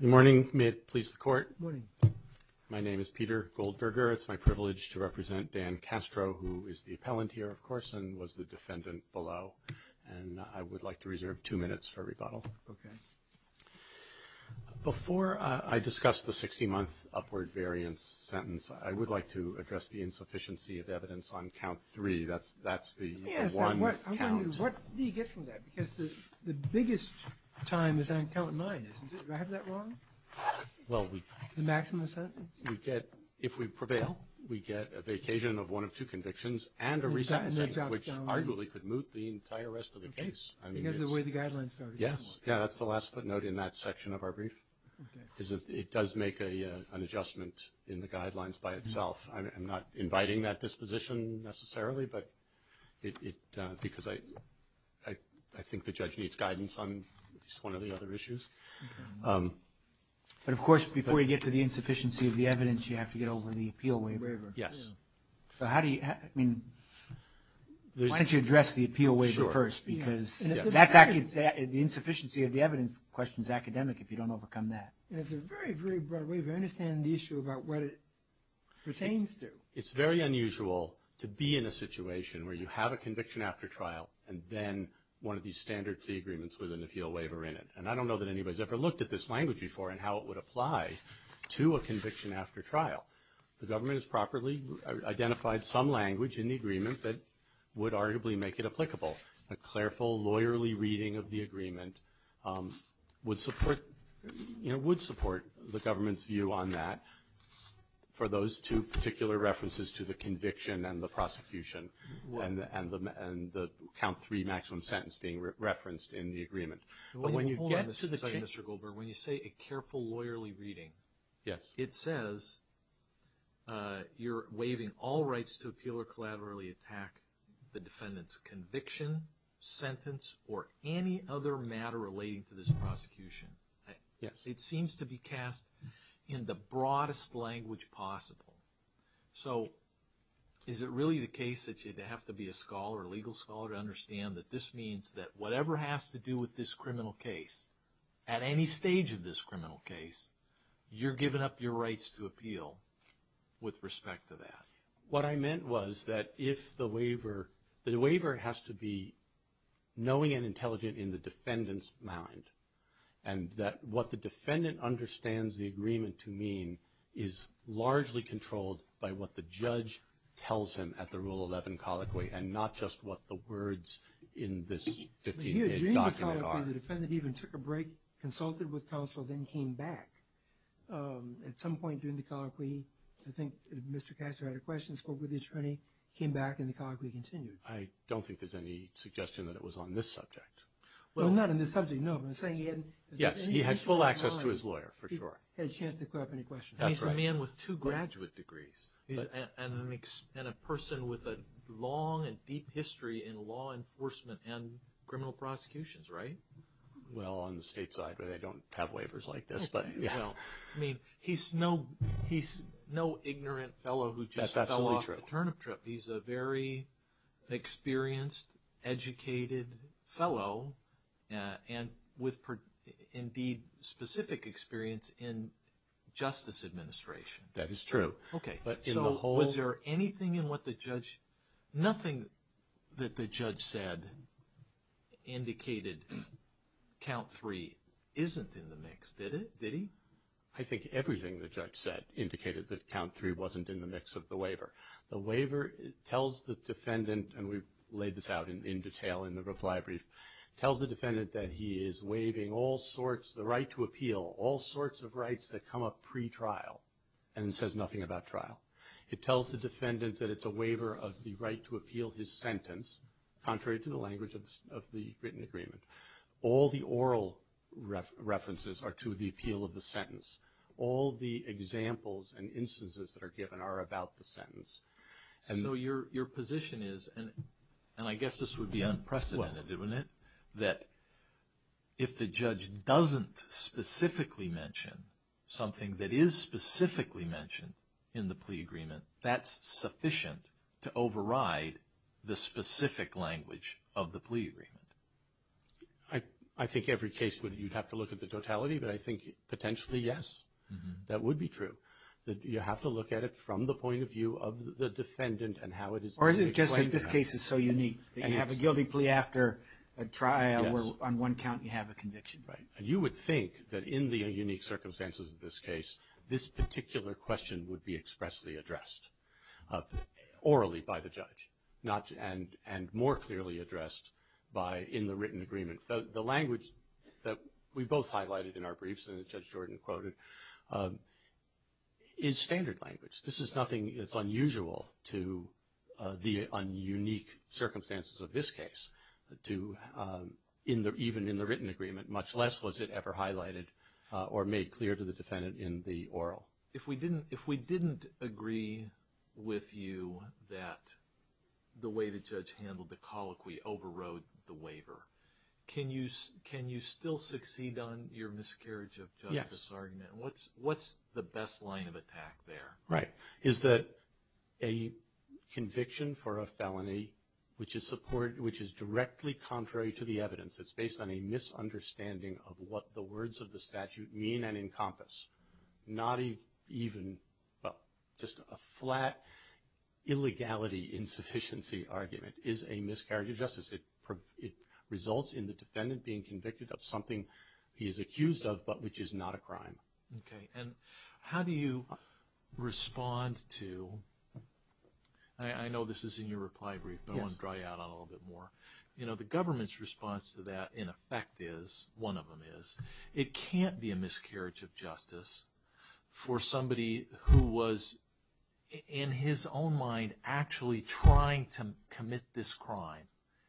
Good morning, may it please the court. My name is Peter Goldberger, it's my privilege to represent Dan Castro, who is the appellant here of course and was the defendant below, and I would like to reserve two minutes for rebuttal. Before I discuss the 60-month upward variance sentence, I would like to address the insufficiency of evidence on count three, that's the one count. Yes, I'm wondering what do you get from that, because the biggest time is on count nine, isn't it? Do I have that wrong? Well, we... The maximum sentence? We get, if we prevail, we get the occasion of one of two convictions and a re-sentencing, which arguably could moot the entire rest of the case. I mean, it's... Because of the way the guidelines started. Yes, that's the last footnote in that section of our brief, is that it does make an adjustment in the guidelines by itself. I'm not inviting that disposition necessarily, but it, because I think the judge needs guidance on at least one of the other issues. But of course, before you get to the insufficiency of the evidence, you have to get over the appeal waiver. Yes. So how do you... I mean, why don't you address the appeal waiver first, because that's, the insufficiency of the evidence question is academic if you don't overcome that. And it's a very, very broad way of understanding the issue about what it pertains to. It's very unusual to be in a situation where you have a conviction after trial and then one of these standard plea agreements with an appeal waiver in it. And I don't know that anybody's ever looked at this language before and how it would apply to a conviction after trial. The government has properly identified some language in the agreement that would arguably make it applicable. A careful, lawyerly reading of the agreement would support the government's view on that for those two particular references to the conviction and the prosecution and the count three maximum sentence being referenced in the agreement. But when you get to the... Hold on a second, Mr. Goldberg. When you say a careful, lawyerly reading, it says you're waiving all rights to appeal or collaterally attack the defendant's conviction, sentence, or any other matter relating to this prosecution. Yes. It seems to be cast in the broadest language possible. So is it really the case that you'd have to be a scholar, a legal scholar, to understand that this means that whatever has to do with this criminal case, at any stage of this criminal case, you're giving up your rights to appeal with respect to that? What I meant was that if the waiver... The waiver has to be knowing and intelligent in the defendant's mind, and that what the defendant understands the agreement to mean is largely controlled by what the judge tells him at the Rule 11 colloquy and not just what the words in this 15-page document are. But you agree with the colloquy. The defendant even took a break, consulted with counsel, then came back at some point during the colloquy. I think Mr. Katcher had a question, spoke with the attorney, came back, and the colloquy continued. I don't think there's any suggestion that it was on this subject. Well, not on this subject, no. I'm saying he hadn't... Yes. He had full access to his lawyer, for sure. He had a chance to clear up any questions. That's right. I mean, he's a man with two graduate degrees, and a person with a long and deep history in law enforcement and criminal prosecutions, right? Well, on the state side where they don't have waivers like this, but, you know. I mean, he's no ignorant fellow who just fell off the turnip trip. He's a very experienced, educated fellow, and with, indeed, specific experience in justice administration. That is true. Okay. So, was there anything in what the judge... I think everything the judge said indicated that count three wasn't in the mix of the waiver. The waiver tells the defendant, and we've laid this out in detail in the reply brief, tells the defendant that he is waiving all sorts, the right to appeal, all sorts of rights that come up pre-trial, and it says nothing about trial. It tells the defendant that it's a waiver of the right to appeal his sentence, contrary to the language of the written agreement. All the oral references are to the appeal of the sentence. All the examples and instances that are given are about the sentence. So, your position is, and I guess this would be unprecedented, wouldn't it, that if the judge doesn't specifically mention something that is specifically mentioned in the plea agreement? I think every case, you'd have to look at the totality, but I think, potentially, yes, that would be true. You have to look at it from the point of view of the defendant and how it is explained. Or is it just that this case is so unique that you have a guilty plea after a trial where on one count you have a conviction? Right. And you would think that in the unique circumstances of this case, this particular question would be expressly addressed orally by the judge, and more clearly addressed in the written agreement. The language that we both highlighted in our briefs, and Judge Jordan quoted, is standard language. This is nothing that's unusual to the unique circumstances of this case, even in the written agreement, much less was it ever highlighted or made clear to the defendant in the oral. If we didn't agree with you that the way the judge handled the colloquy overrode the waiver, can you still succeed on your miscarriage of justice argument? What's the best line of attack there? Right. Is that a conviction for a felony, which is directly contrary to the evidence, it's based on a misunderstanding of what the words of the statute mean and encompass. Not even, well, just a flat illegality insufficiency argument is a miscarriage of justice. It results in the defendant being convicted of something he is accused of, but which is not a crime. Okay. And how do you respond to, I know this is in your reply brief, but I want to draw you out on it a little bit more. You know, the government's response to that in effect is, one of them is, it can't be a miscarriage of justice for somebody who was in his own mind actually trying to commit this crime.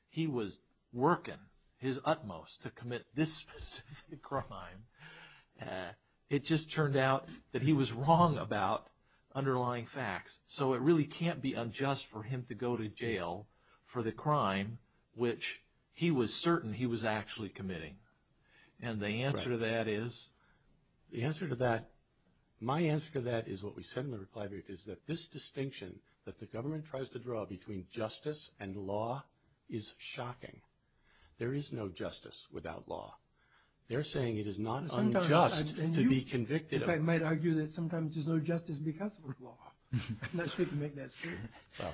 He was working his utmost to commit this specific crime. It just turned out that he was wrong about underlying facts. So it really can't be unjust for him to go to jail for the crime, which he was certain he was actually committing. And the answer to that is? The answer to that, my answer to that is what we said in the reply brief, is that this distinction that the government tries to draw between justice and law is shocking. There is no justice without law. They're saying it is not unjust to be convicted of- I'm not supposed to make that statement. Well,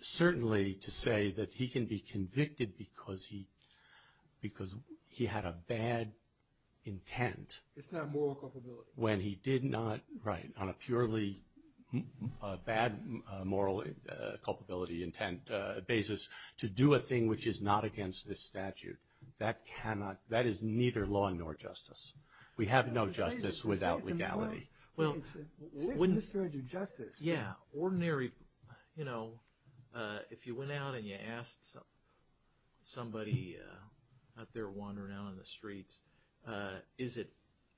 certainly to say that he can be convicted because he had a bad intent- It's not moral culpability. When he did not, right, on a purely bad moral culpability intent basis to do a thing which is not against this statute. That cannot, that is neither law nor justice. We have no justice without legality. Well, wouldn't- It's a mystery to justice. Yeah, ordinary, you know, if you went out and you asked somebody out there wandering out on the streets, is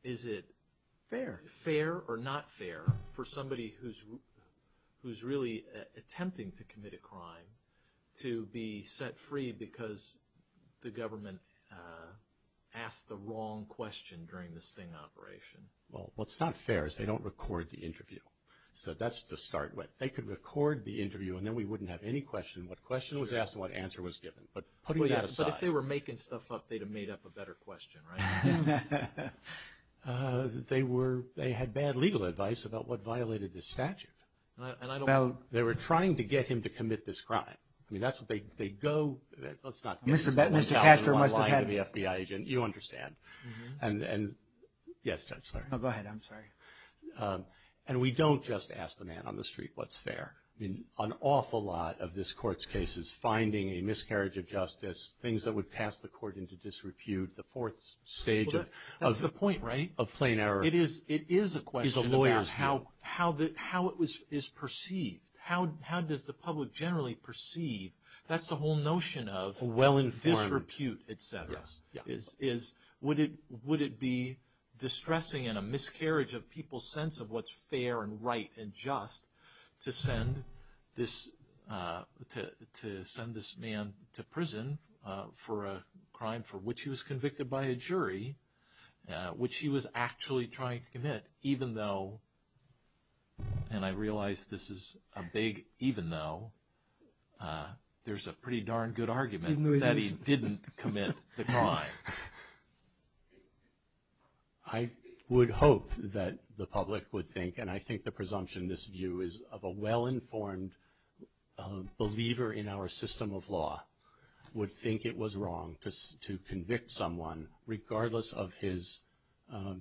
it fair or not fair for somebody who's really attempting to commit a crime to be set free because the government asked the wrong question during the Sting operation? Well, what's not fair is they don't record the interview. So that's to start with. They could record the interview and then we wouldn't have any question. What question was asked and what answer was given. But putting that aside- But if they were making stuff up, they'd have made up a better question, right? They were, they had bad legal advice about what violated the statute. They were trying to get him to commit this crime. I mean, that's what they go- Mr. Castro must have had- Let's not give one dollar and one line to the FBI agent. You understand. Yes, Judge, sorry. Oh, go ahead. I'm sorry. And we don't just ask the man on the street what's fair. I mean, an awful lot of this court's case is finding a miscarriage of justice, things that would pass the court into disrepute, the fourth stage of- That's the point, right? Of plain error. It is a question about how it is perceived. That's the whole notion of disrepute, et cetera. Would it be distressing in a miscarriage of people's sense of what's fair and right and just to send this man to prison for a crime for which he was convicted by a jury, which he was actually trying to commit, even though, and I realize this is a big even though, there's a pretty darn good argument that he didn't commit the crime. I would hope that the public would think, and I think the presumption in this view is of a well-informed believer in our system of law would think it was wrong to convict someone regardless of his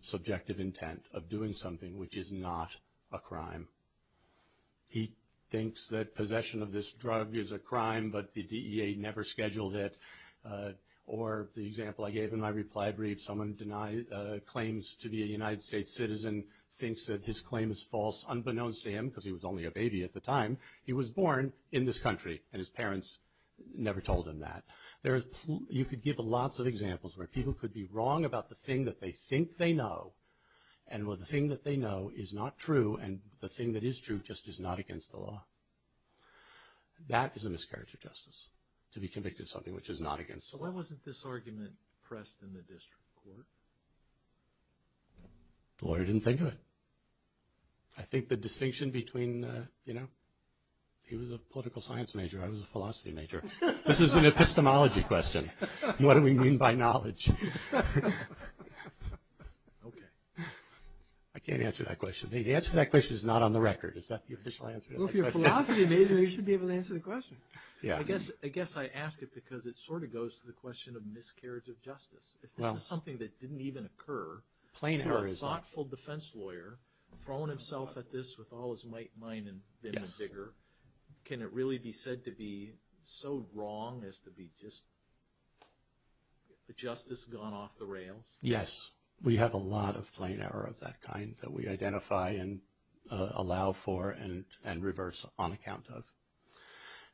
subjective intent of doing something which is not a crime. He thinks that possession of this drug is a crime, but the DEA never scheduled it. Or the example I gave in my reply brief, someone claims to be a United States citizen, thinks that his claim is false unbeknownst to him because he was only a baby at the time. He was born in this country and his parents never told him that. You could give lots of examples where people could be wrong about the thing that they think they know, and where the thing that they know is not true, and the thing that is true just is not against the law. That is a miscarriage of justice, to be convicted of something which is not against the law. So why wasn't this argument pressed in the district court? The lawyer didn't think of it. I think the distinction between, you know, he was a political science major, I was a philosophy major. This is an epistemology question. What do we mean by knowledge? Okay. I can't answer that question. The answer to that question is not on the record. Is that the official answer to that question? Well, if you're a philosophy major, you should be able to answer the question. Yeah. I guess I ask it because it sort of goes to the question of miscarriage of justice. If this is something that didn't even occur, a thoughtful defense lawyer throwing himself at this with all his might and mine and then the bigger, can it really be said to be so that justice has gone off the rails? Yes. We have a lot of plain error of that kind that we identify and allow for and reverse on account of.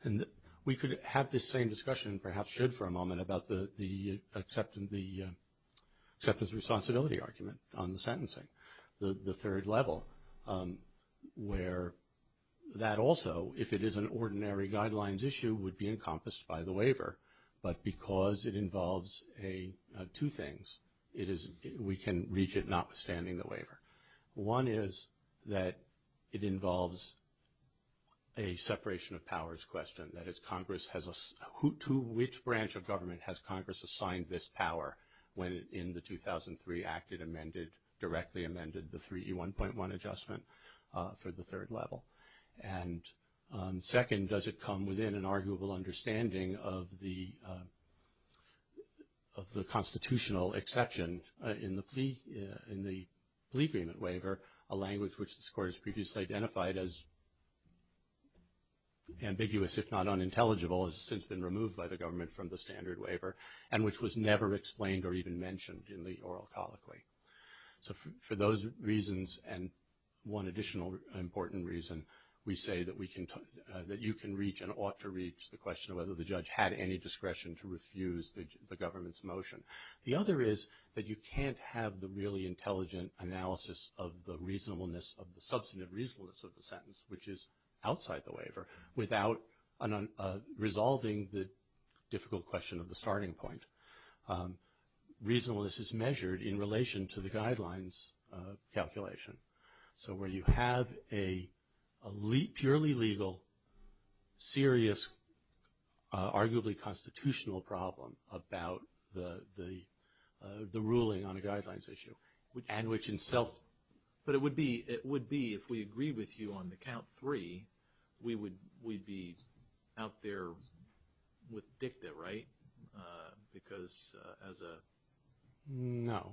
And we could have this same discussion, perhaps should for a moment, about the acceptance responsibility argument on the sentencing, the third level, where that also, if it is an ordinary guidelines issue, would be encompassed by the waiver. But because it involves two things, we can reach it notwithstanding the waiver. One is that it involves a separation of powers question. That is, to which branch of government has Congress assigned this power when in the 2003 Act it directly amended the 3E1.1 adjustment for the third level? And second, does it come within an arguable understanding of the constitutional exception in the plea agreement waiver, a language which this Court has previously identified as ambiguous if not unintelligible, has since been removed by the government from the standard waiver and which was never explained or even mentioned in the oral colloquy. So for those reasons and one additional important reason, we say that you can reach and ought to reach the question of whether the judge had any discretion to refuse the government's motion. The other is that you can't have the really intelligent analysis of the reasonableness of the substantive reasonableness of the sentence, which is outside the waiver, without resolving the difficult question of the starting point. Reasonableness is measured in relation to the guidelines calculation. So where you have a purely legal, serious, arguably constitutional problem about the ruling on a guidelines issue and which in self... But it would be if we agree with you on the count three, we'd be out there with dicta, right? Because as a... No.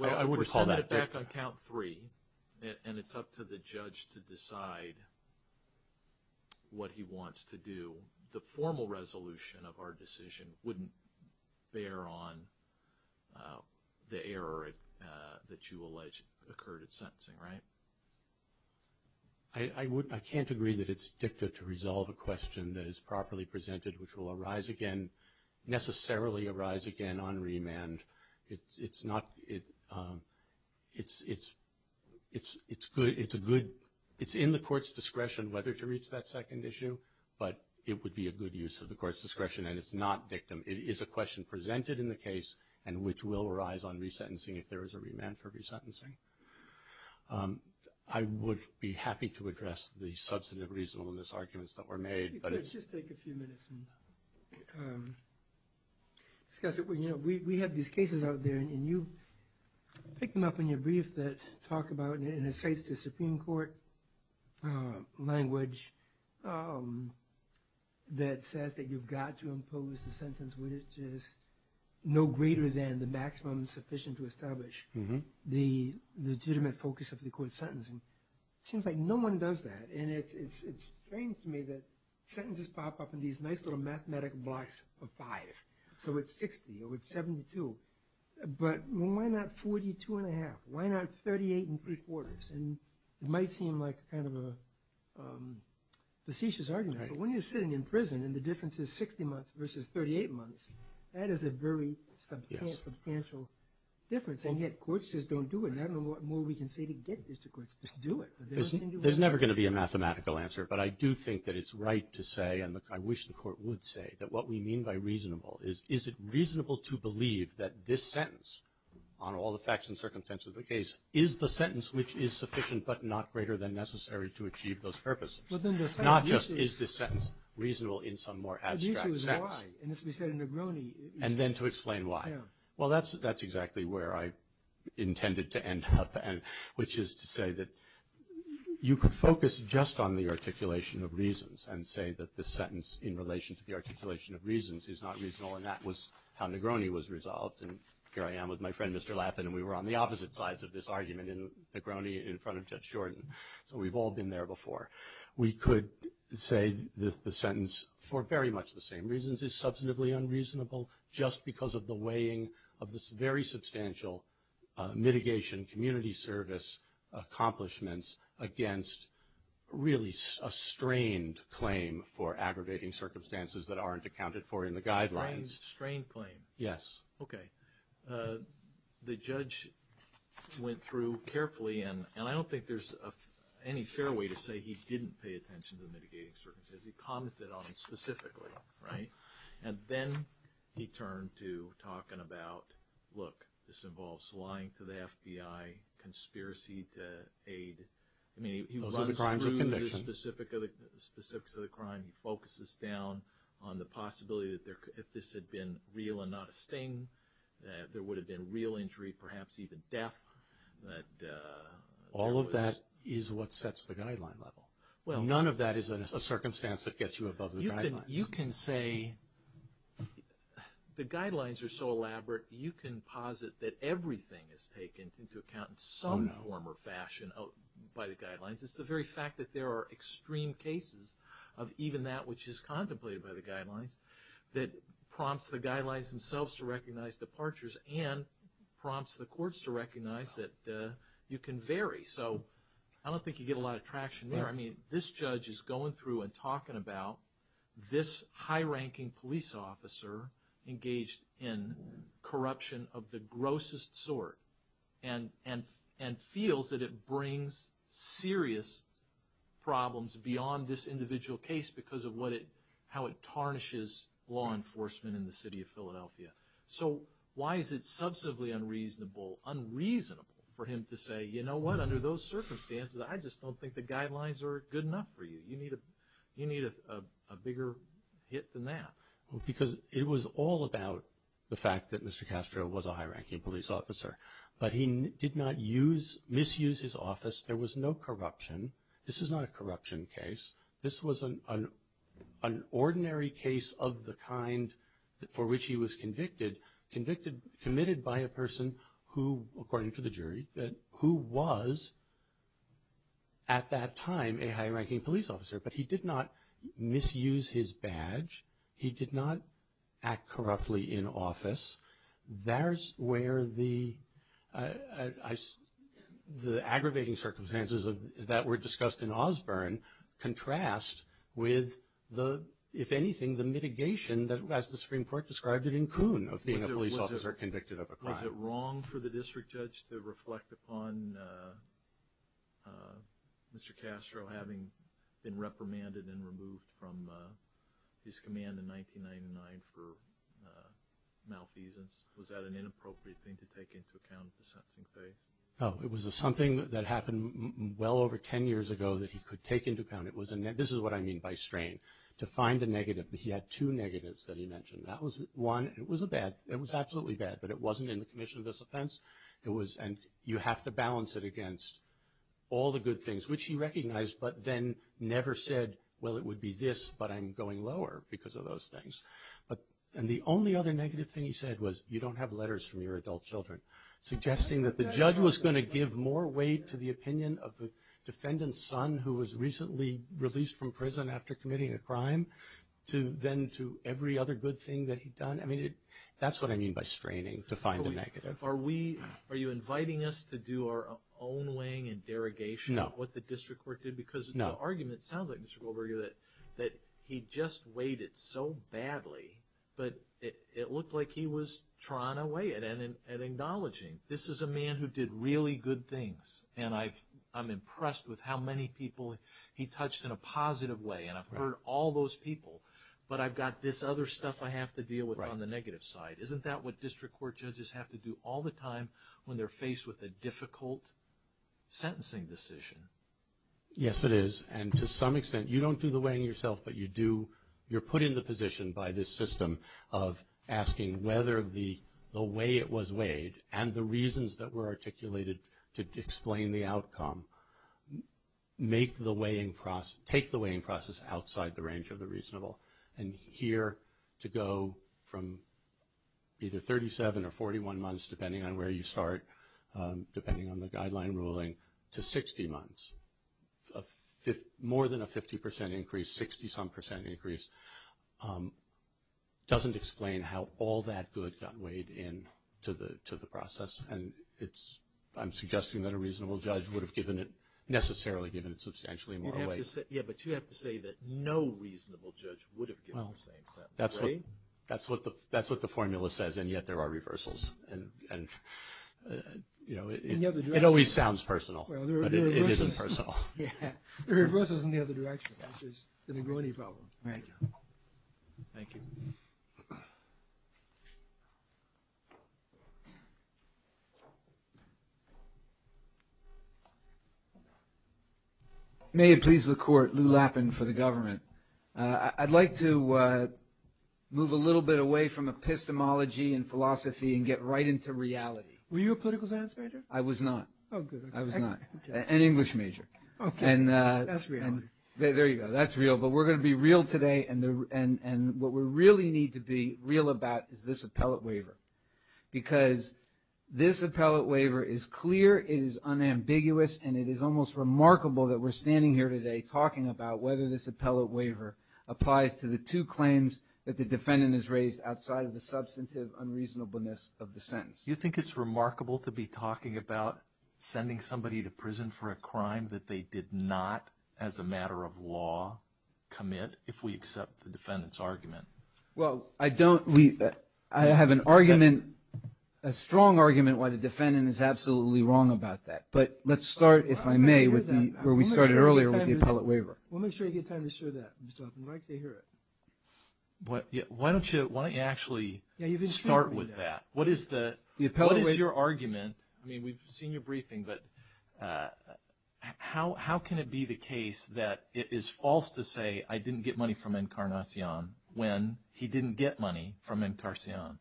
I wouldn't call that dicta. Well, we're sending it back on count three and it's up to the judge to decide what he wants to do. The formal resolution of our decision wouldn't bear on the error that you allege occurred at sentencing, right? I can't agree that it's dicta to resolve a question that is properly presented which will arise again, necessarily arise again on remand. It's in the court's discretion whether to reach that second issue, but it would be a good use of the court's discretion and it's not dictum. It is a question presented in the case and which will arise on resentencing if there is a remand for resentencing. I would be happy to address the substantive reasonableness arguments that were made. Let's just take a few minutes and discuss it. We have these cases out there and you pick them up in your brief that talk about, and it cites the Supreme Court language that says that you've got to impose the sentence which is no greater than the maximum sufficient to establish the legitimate focus of the court's sentencing. It seems like no one does that and it's strange to me that sentences pop up in these nice little mathematic blocks of five. So it's 60 or it's 72, but why not 42 and a half? Why not 38 and three quarters? It might seem like kind of a facetious argument, but when you're sitting in prison and the difference is 60 months versus 38 months, that is a very substantial difference and yet courts just don't do it. I don't know what more we can say to get district courts to do it. There's never going to be a mathematical answer, but I do think that it's right to say and I wish the court would say that what we mean by reasonable is, is it reasonable to believe that this sentence on all the facts and circumstances of the case is the sentence which is sufficient but not greater than necessary to achieve those purposes. Not just is this sentence reasonable in some more abstract sense. The issue is why. And as we said in Negroni. And then to explain why. Yeah. Well, that's exactly where I intended to end up. And which is to say that you could focus just on the articulation of reasons and say that the sentence in relation to the articulation of reasons is not reasonable. And that was how Negroni was resolved. And here I am with my friend, Mr. Lappin, and we were on the opposite sides of this argument in Negroni in front of Judge Shorten. So we've all been there before. We could say that the sentence for very much the same reasons is substantively unreasonable just because of the weighing of this very substantial mitigation, community service accomplishments against really a strained claim for aggravating circumstances that aren't accounted for in the guidelines. Strained claim? Yes. Okay. The judge went through carefully and I don't think there's any fair way to say he didn't pay attention to the mitigating circumstances. He commented on it specifically. Right? And then he turned to talking about, look, this involves lying to the FBI, conspiracy to aid. Those are the crimes of conviction. I mean, he runs through the specifics of the crime. He focuses down on the possibility that if this had been real and not a sting, that there would have been real injury, perhaps even death. All of that is what sets the guideline level. None of that is a circumstance that gets you above the guidelines. You can say the guidelines are so elaborate, you can posit that everything is taken into account in some form or fashion by the guidelines. It's the very fact that there are extreme cases of even that which is contemplated by the guidelines that prompts the guidelines themselves to recognize departures and prompts the courts to recognize that you can vary. So I don't think you get a lot of traction there. I mean, this judge is going through and talking about this high-ranking police officer engaged in corruption of the grossest sort and feels that it brings serious problems beyond this individual case because of how it tarnishes law enforcement in the city of Philadelphia. So why is it substantively unreasonable, unreasonable for him to say, you know what, under those conditions we're good enough for you. You need a bigger hit than that. Because it was all about the fact that Mr. Castro was a high-ranking police officer. But he did not misuse his office. There was no corruption. This is not a corruption case. This was an ordinary case of the kind for which he was convicted, committed by a person who, according to the jury, who was at that time a high-ranking police officer. But he did not misuse his badge. He did not act corruptly in office. That's where the aggravating circumstances that were discussed in Osborne contrast with the, if anything, the mitigation as the Supreme Court described it in Coon of being a police officer convicted of a crime. Is it wrong for the district judge to reflect upon Mr. Castro having been reprimanded and removed from his command in 1999 for malfeasance? Was that an inappropriate thing to take into account at the sentencing phase? No. It was something that happened well over 10 years ago that he could take into account. This is what I mean by strain. To find a negative. He had two negatives that he mentioned. That was one. It was a bad, it was absolutely bad, but it wasn't in the commission of this offense. It was, and you have to balance it against all the good things, which he recognized, but then never said, well, it would be this, but I'm going lower because of those things. And the only other negative thing he said was, you don't have letters from your adult children, suggesting that the judge was going to give more weight to the opinion of the defendant's son, who was recently released from prison after committing a crime, than to every other good thing that he'd done. I mean, that's what I mean by straining. To find a negative. Are we, are you inviting us to do our own weighing and derogation of what the district court did? No. Because the argument sounds like, Mr. Goldberger, that he just weighed it so badly, but it looked like he was trying to weigh it and acknowledging, this is a man who did really good things, and I'm impressed with how many people he touched in a positive way, and I've heard all those people, but I've got this other stuff I have to deal with on the negative side. Isn't that what district court judges have to do all the time when they're faced with a difficult sentencing decision? Yes, it is. And to some extent, you don't do the weighing yourself, but you do, you're put in the position by this system of asking whether the way it was weighed, and the reasons that were articulated to explain the outcome, make the weighing process, take the weighing process outside the range of the reasonable. And here, to go from either 37 or 41 months, depending on where you start, depending on the guideline ruling, to 60 months, more than a 50% increase, 60 some percent increase, doesn't explain how all that good got weighed into the process, and I'm suggesting that a reasonable judge would have given it, necessarily given it substantially more weight. Yeah, but you have to say that no reasonable judge would have given the same sentence, right? That's what the formula says, and yet there are reversals, and it always sounds personal, but it isn't personal. Yeah, the reversal is in the other direction, which is the Nagourney problem. Right. Thank you. May it please the court, Lou Lappin for the government. I'd like to move a little bit away from epistemology and philosophy and get right into reality. Were you a political science major? I was not. Oh, good. I was not. Okay. An English major. Okay. That's reality. There you go. That's real, but we're going to be real today, and what we really need to be real about is this appellate waiver, because this appellate waiver is clear, it is unambiguous, and it is almost remarkable that we're standing here today talking about whether this appellate waiver applies to the two claims that the defendant has raised outside of the substantive unreasonableness of the sentence. Do you think it's remarkable to be talking about sending somebody to prison for a crime that they did not, as a matter of law, commit if we accept the defendant's argument? Well, I don't. I have an argument, a strong argument why the defendant is absolutely wrong about that, but let's start, if I may, where we started earlier with the appellate waiver. We'll make sure you get time to show that, Mr. Lappin. We'd like to hear it. Why don't you actually start with that? What is your argument? I mean, we've seen your briefing, but how can it be the case that it is false to say I didn't get money from Encarnacion when he didn't get money from Encarnacion?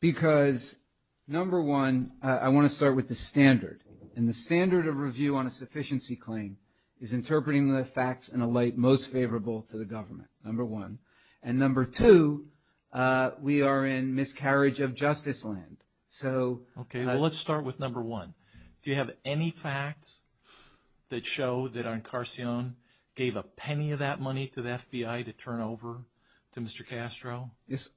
Because, number one, I want to start with the standard, and the standard of review on a sufficiency claim is interpreting the facts in a light most favorable to the government, number one, and number two, we are in miscarriage of justice land. Okay. Well, let's start with number one. Do you have any facts that show that Encarnacion gave a penny of that money to the FBI to turn over to Mr. Castro?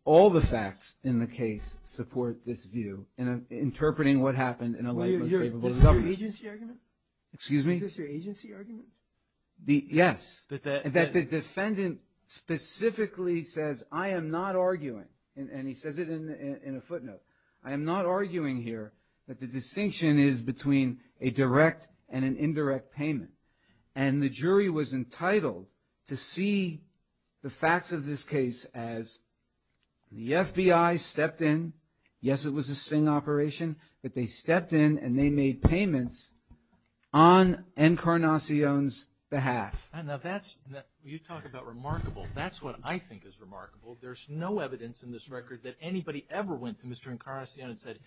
All the facts in the case support this view, interpreting what happened in a light most favorable to the government. Is this your agency argument? Excuse me? Is this your agency argument? Yes. That the defendant specifically says, I am not arguing, and he says it in a footnote, I am not arguing here that the distinction is between a direct and an indirect payment, and the jury was entitled to see the facts of this case as the FBI stepped in. Yes, it was a Singh operation, but they stepped in and they made payments on Encarnacion's behalf. Now, that's – you talk about remarkable. That's what I think is remarkable. There's no evidence in this record that anybody ever went to Mr. Encarnacion and said,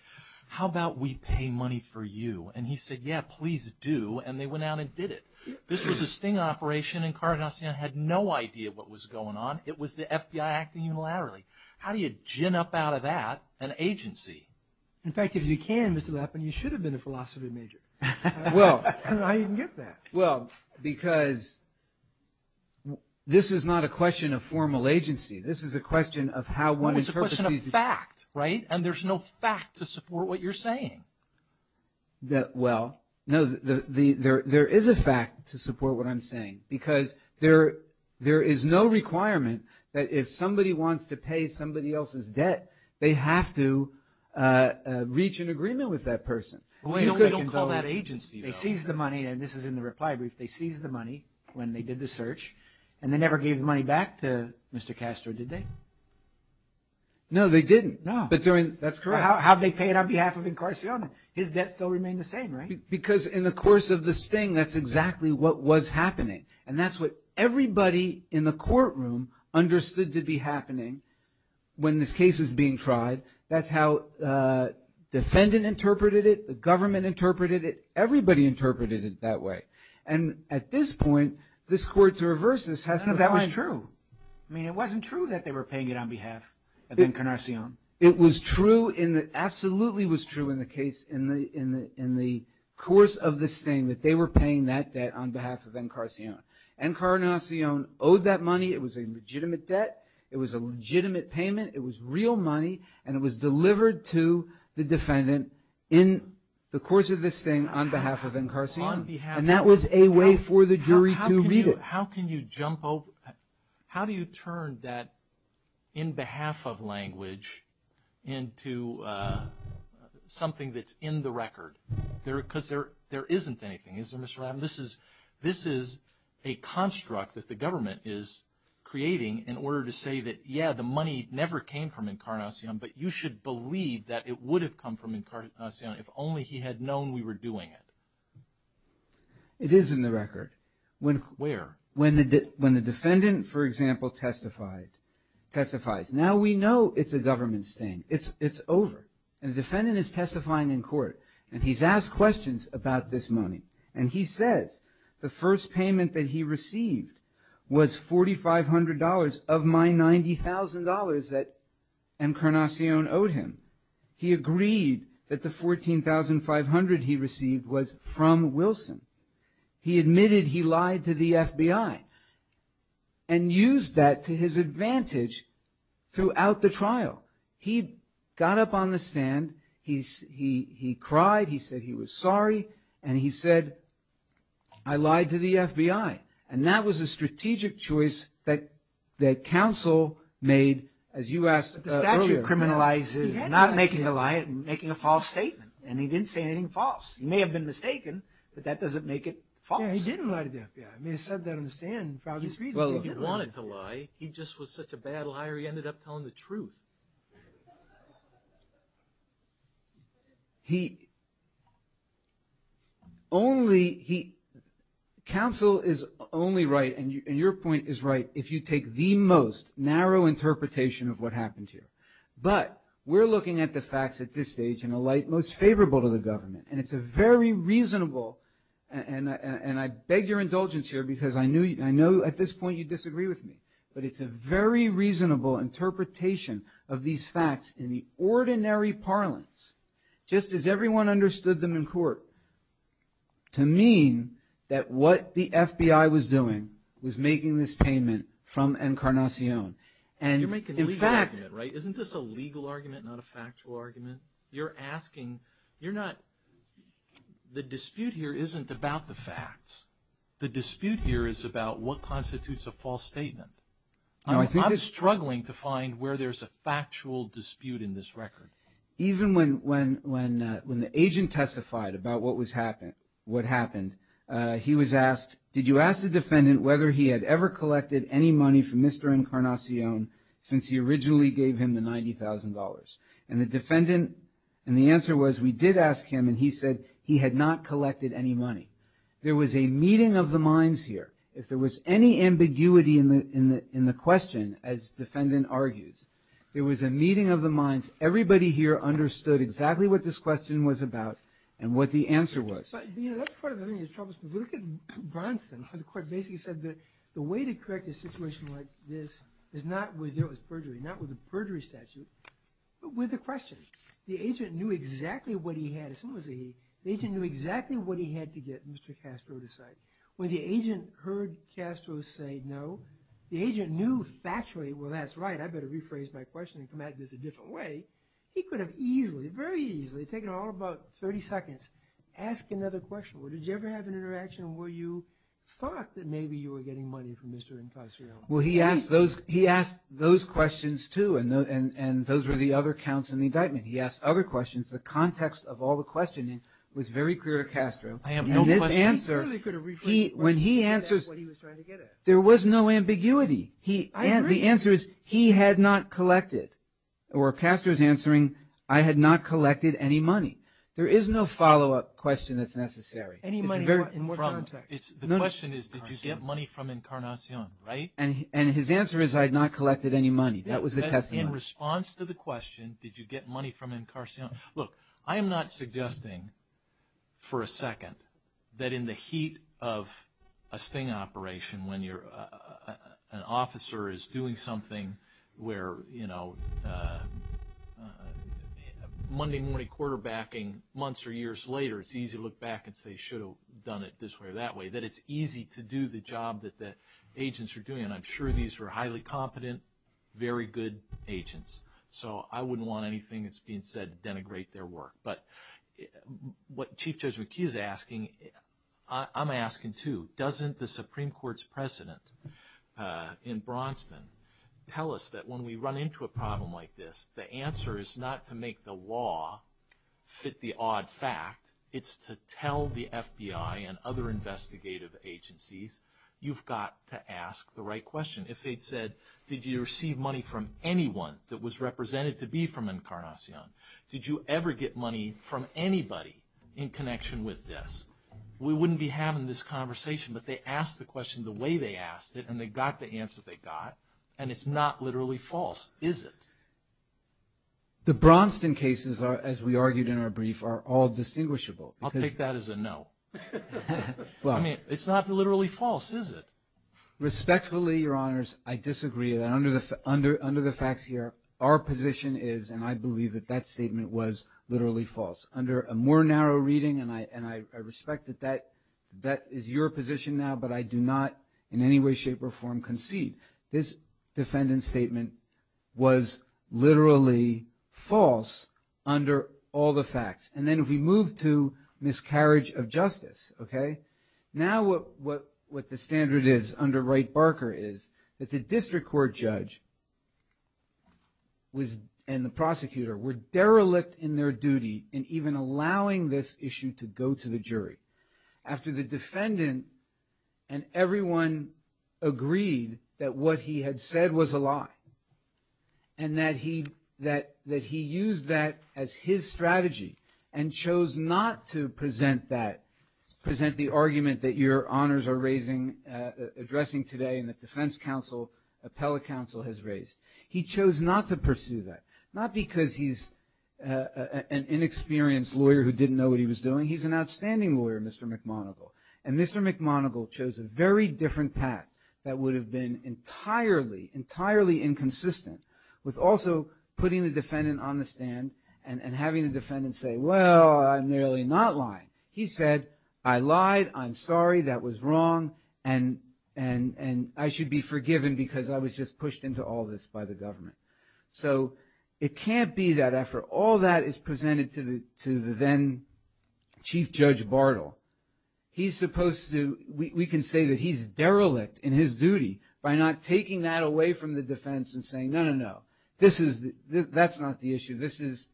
how about we pay money for you? And he said, yeah, please do, and they went out and did it. This was a Singh operation, Encarnacion had no idea what was going on. It was the FBI acting unilaterally. How do you gin up out of that an agency? In fact, if you can, Mr. Lapin, you should have been a philosophy major. Well – How do you get that? Well, because this is not a question of formal agency. This is a question of how one interprets these – Well, it's a question of fact, right? And there's no fact to support what you're saying. Well, no, there is a fact to support what I'm saying because there is no requirement that if somebody wants to pay somebody else's debt, they have to reach an agreement with that person. Well, they don't call that agency, though. They seized the money, and this is in the reply brief. They seized the money when they did the search, and they never gave the money back to Mr. Castro, did they? No, they didn't. No. That's correct. How did they pay it on behalf of Encarnacion? His debt still remained the same, right? Because in the course of the sting, that's exactly what was happening, and that's what everybody in the courtroom understood to be happening when this case was being tried. That's how the defendant interpreted it. The government interpreted it. Everybody interpreted it that way. And at this point, this court, to reverse this, has to find – No, that was true. I mean, it wasn't true that they were paying it on behalf of Encarnacion. It was true in the – absolutely was true in the case in the course of the sting, that they were paying that debt on behalf of Encarnacion. Encarnacion owed that money. It was a legitimate debt. It was a legitimate payment. It was real money, and it was delivered to the defendant in the course of the sting on behalf of Encarnacion. On behalf of – And that was a way for the jury to read it. How can you jump over – how do you turn that in behalf of language into something that's in the record? Because there isn't anything, is there, Mr. Rabin? This is a construct that the government is creating in order to say that, yeah, the money never came from Encarnacion, but you should believe that it would have come from Encarnacion if only he had known we were doing it. It is in the record. Where? When the defendant, for example, testifies. Now we know it's a government sting. It's over. And the defendant is testifying in court, and he's asked questions about this money. And he says the first payment that he received was $4,500 of my $90,000 that Encarnacion owed him. He agreed that the $14,500 he received was from Wilson. He admitted he lied to the FBI and used that to his advantage throughout the trial. He got up on the stand. He cried. He said he was sorry, and he said, I lied to the FBI. And that was a strategic choice that counsel made, as you asked earlier. But the statute criminalizes not making a lie, making a false statement. And he didn't say anything false. He may have been mistaken, but that doesn't make it false. Yeah, he didn't lie to the FBI. I mean, he said that on the stand for obvious reasons. Well, he wanted to lie. He just was such a bad liar he ended up telling the truth. He only, he, counsel is only right, and your point is right, if you take the most narrow interpretation of what happened here. But we're looking at the facts at this stage in a light most favorable to the government, and it's a very reasonable, and I beg your indulgence here, because I know at this point you disagree with me, but it's a very reasonable interpretation of these facts in the ordinary parlance, just as everyone understood them in court, to mean that what the FBI was doing was making this payment from Encarnacion. You're making a legal argument, right? Isn't this a legal argument, not a factual argument? You're asking, you're not, the dispute here isn't about the facts. The dispute here is about what constitutes a false statement. I'm struggling to find where there's a factual dispute in this record. Even when the agent testified about what happened, he was asked, did you ask the defendant whether he had ever collected any money from Mr. Encarnacion since he originally gave him the $90,000? And the defendant, and the answer was we did ask him, and he said he had not collected any money. There was a meeting of the minds here. If there was any ambiguity in the question, as the defendant argues, there was a meeting of the minds. Everybody here understood exactly what this question was about and what the answer was. That's part of the thing that troubles me. If you look at Bronson, the court basically said that the way to correct a situation like this is not with perjury, not with a perjury statute, but with a question. The agent knew exactly what he had. The agent knew exactly what he had to get Mr. Castro to say. When the agent heard Castro say no, the agent knew factually, well, that's right, I better rephrase my question and come at this a different way. He could have easily, very easily, taken all about 30 seconds, asked another question. Did you ever have an interaction where you thought that maybe you were getting money from Mr. Encarnacion? Well, he asked those questions too, and those were the other counts in the indictment. He asked other questions. The context of all the questioning was very clear to Castro. And this answer, when he answers, there was no ambiguity. The answer is he had not collected, or Castro's answering, I had not collected any money. There is no follow-up question that's necessary. The question is did you get money from Encarnacion, right? And his answer is I had not collected any money. That was the testimony. In response to the question, did you get money from Encarnacion, look, I am not suggesting for a second that in the heat of a sting operation when an officer is doing something where, you know, Monday morning quarterbacking months or years later, it's easy to look back and say, should have done it this way or that way, that it's easy to do the job that the agents are doing. And I'm sure these were highly competent, very good agents. So I wouldn't want anything that's being said to denigrate their work. But what Chief Judge McKee is asking, I'm asking too, doesn't the Supreme Court's precedent in Braunston tell us that when we run into a problem like this, the answer is not to make the law fit the odd fact, it's to tell the FBI and other investigative agencies, you've got to ask the right question. If they'd said, did you receive money from anyone that was represented to be from Encarnacion? Did you ever get money from anybody in connection with this? We wouldn't be having this conversation. But they asked the question the way they asked it, and they got the answer they got. And it's not literally false, is it? The Braunston cases, as we argued in our brief, are all distinguishable. I'll take that as a no. I mean, it's not literally false, is it? Respectfully, Your Honors, I disagree. Under the facts here, our position is, and I believe that that statement was literally false. Under a more narrow reading, and I respect that that is your position now, but I do not in any way, shape, or form concede. This defendant's statement was literally false under all the facts. And then if we move to miscarriage of justice, okay, now what the standard is under Wright-Barker is that the district court judge and the prosecutor were derelict in their duty in even allowing this issue to go to the jury. After the defendant and everyone agreed that what he had said was a lie and that he used that as his strategy and chose not to present that, present the argument that Your Honors are addressing today and that defense counsel, appellate counsel has raised. He chose not to pursue that, not because he's an inexperienced lawyer who didn't know what he was doing. He's an outstanding lawyer, Mr. McMonigle. And Mr. McMonigle chose a very different path that would have been entirely, entirely inconsistent with also putting the defendant on the stand and having the defendant say, well, I'm really not lying. He said, I lied, I'm sorry, that was wrong, and I should be forgiven because I was just pushed into all this by the government. So it can't be that after all that is presented to the then Chief Judge Bartle, he's supposed to, we can say that he's derelict in his duty by not taking that away from the defense and saying, no, no, no, this is, that's not the issue, this is,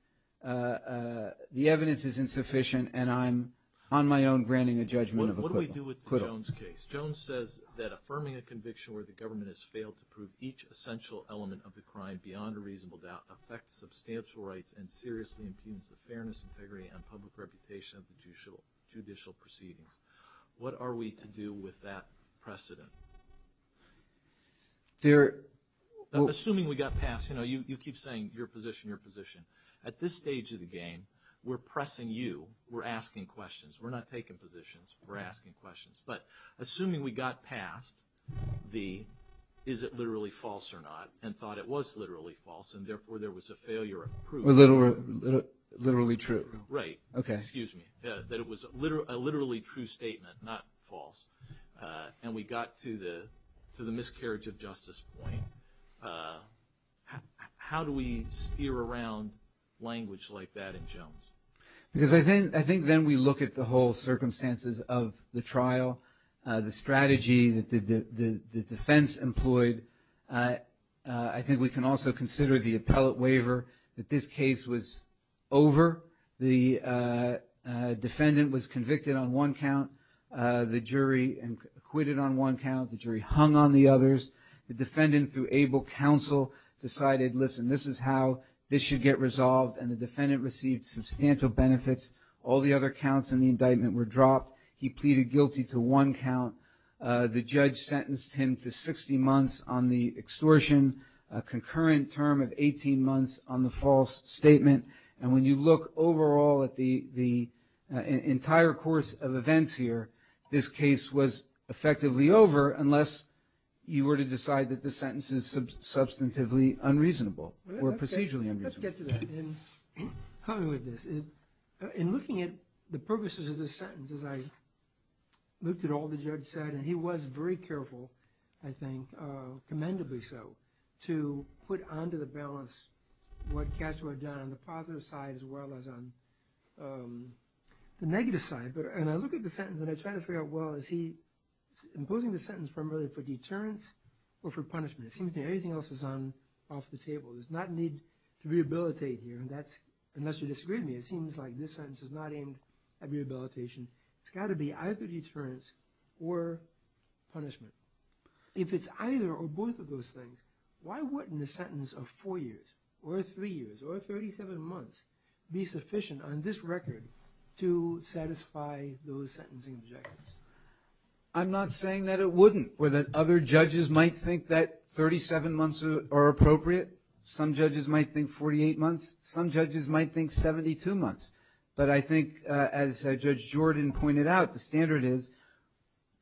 the evidence is insufficient and I'm on my own granting a judgment of acquittal. What do we do with the Jones case? Jones says that affirming a conviction where the government has failed to prove each essential element of the crime beyond a reasonable doubt affects substantial rights and seriously impugns the fairness and integrity and public reputation of the judicial proceedings. What are we to do with that precedent? Assuming we got past, you know, you keep saying your position, your position. At this stage of the game, we're pressing you, we're asking questions. We're not taking positions, we're asking questions. But assuming we got past the is it literally false or not and thought it was literally false and therefore there was a failure of proof. Literally true. Right. Okay. Excuse me. That it was a literally true statement, not false. And we got to the miscarriage of justice point. How do we steer around language like that in Jones? Because I think then we look at the whole circumstances of the trial, the strategy that the defense employed. I think we can also consider the appellate waiver that this case was over. The defendant was convicted on one count. The jury acquitted on one count. The jury hung on the others. The defendant through able counsel decided, listen, this is how this should get resolved. And the defendant received substantial benefits. All the other counts in the indictment were dropped. He pleaded guilty to one count. The judge sentenced him to 60 months on the extortion, a concurrent term of 18 months on the false statement. And when you look overall at the entire course of events here, this case was effectively over unless you were to decide that the sentence is Help me with this. In looking at the purposes of this sentence, as I looked at all the judge said, and he was very careful, I think, commendably so, to put onto the balance what Castro had done on the positive side as well as on the negative side. And I look at the sentence and I try to figure out, well, is he imposing the sentence primarily for deterrence or for punishment? It seems to me everything else is off the table. There's not a need to rehabilitate here. Unless you disagree with me, it seems like this sentence is not aimed at rehabilitation. It's got to be either deterrence or punishment. If it's either or both of those things, why wouldn't a sentence of four years or three years or 37 months be sufficient on this record to satisfy those sentencing objectives? I'm not saying that it wouldn't, or that other judges might think that 37 months are appropriate. Some judges might think 48 months. Some judges might think 72 months. But I think, as Judge Jordan pointed out, the standard is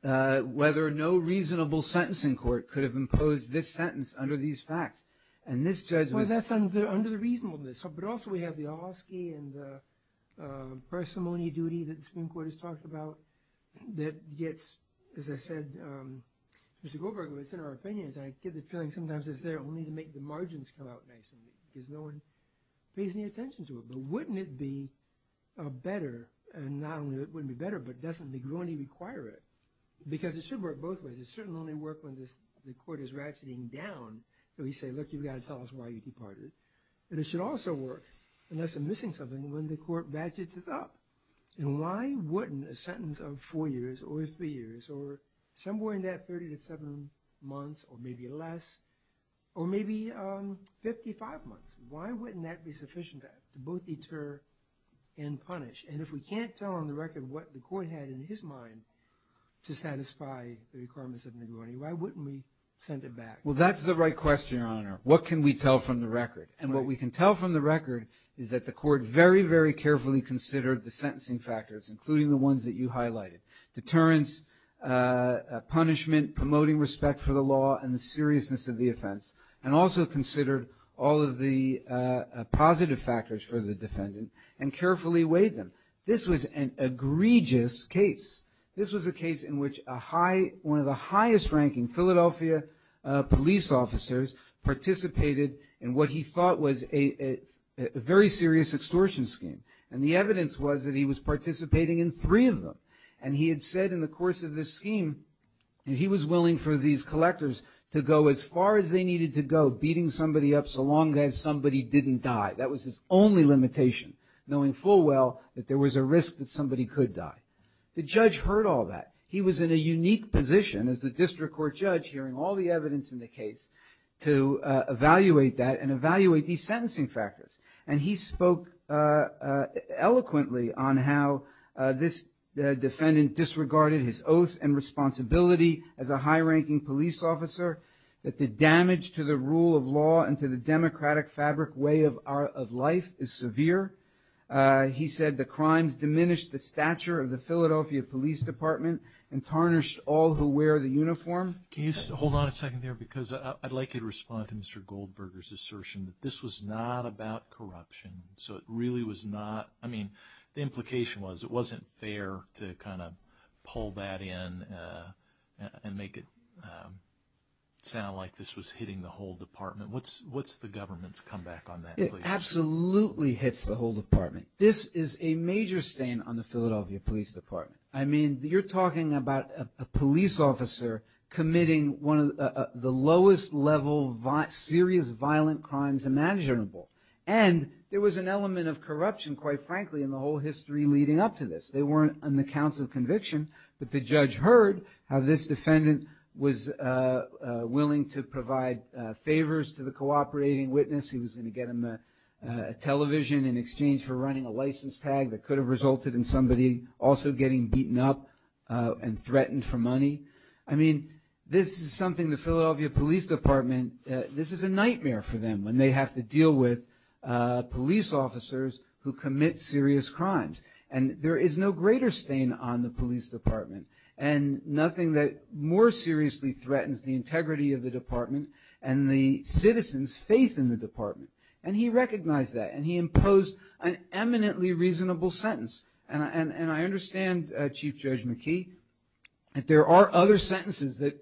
whether no reasonable sentence in court could have imposed this sentence under these facts. And this judgment- Well, that's under the reasonableness. But also we have the Ahlersky and the persimmony duty that the Supreme Court has talked about that gets, as I said, Mr. Goldberg, what's in our opinion, is I get the feeling sometimes it's there only to make the margins come out nicely because no one pays any attention to it. But wouldn't it be better, and not only would it be better, but doesn't it only require it? Because it should work both ways. It should only work when the court is ratcheting down and we say, look, you've got to tell us why you departed. But it should also work, unless I'm missing something, when the court ratchets it up. And why wouldn't a sentence of four years or three years or somewhere in that 30 to 70 months or maybe less, or maybe 55 months, why wouldn't that be sufficient to both deter and punish? And if we can't tell on the record what the court had in his mind to satisfy the requirements of negligee, why wouldn't we send it back? Well, that's the right question, Your Honor. What can we tell from the record? And what we can tell from the record is that the court very, very carefully considered the sentencing factors, including the ones that you highlighted, deterrence, punishment, promoting respect for the law, and the seriousness of the offense, and also considered all of the positive factors for the defendant and carefully weighed them. This was an egregious case. This was a case in which one of the highest-ranking Philadelphia police officers participated in what he thought was a very serious extortion scheme, and the evidence was that he was participating in three of them. And he had said in the course of this scheme that he was willing for these collectors to go as far as they needed to go, beating somebody up so long as somebody didn't die. That was his only limitation, knowing full well that there was a risk that somebody could die. The judge heard all that. He was in a unique position as the district court judge, hearing all the evidence in the case, to evaluate that and evaluate these sentencing factors. And he spoke eloquently on how this defendant disregarded his oath and responsibility as a high-ranking police officer, that the damage to the rule of law and to the democratic fabric way of life is severe. He said the crimes diminished the stature of the Philadelphia Police Department and tarnished all who wear the uniform. Can you hold on a second there? Because I'd like you to respond to Mr. Goldberger's assertion that this was not about corruption. So it really was not. I mean, the implication was it wasn't fair to kind of pull that in and make it sound like this was hitting the whole department. What's the government's comeback on that? It absolutely hits the whole department. This is a major stain on the Philadelphia Police Department. I mean, you're talking about a police officer committing one of the lowest-level serious violent crimes imaginable. And there was an element of corruption, quite frankly, in the whole history leading up to this. They weren't on the counts of conviction, but the judge heard how this defendant was willing to provide favors to the cooperating witness. He was going to get them a television in exchange for running a license tag that could have resulted in somebody also getting beaten up and threatened for money. I mean, this is something the Philadelphia Police Department, this is a nightmare for them when they have to deal with police officers who commit serious crimes. And there is no greater stain on the police department and nothing that more seriously threatens the integrity of the department and the citizens' faith in the department. And he recognized that, and he imposed an eminently reasonable sentence. And I understand, Chief Judge McKee, that there are other sentences that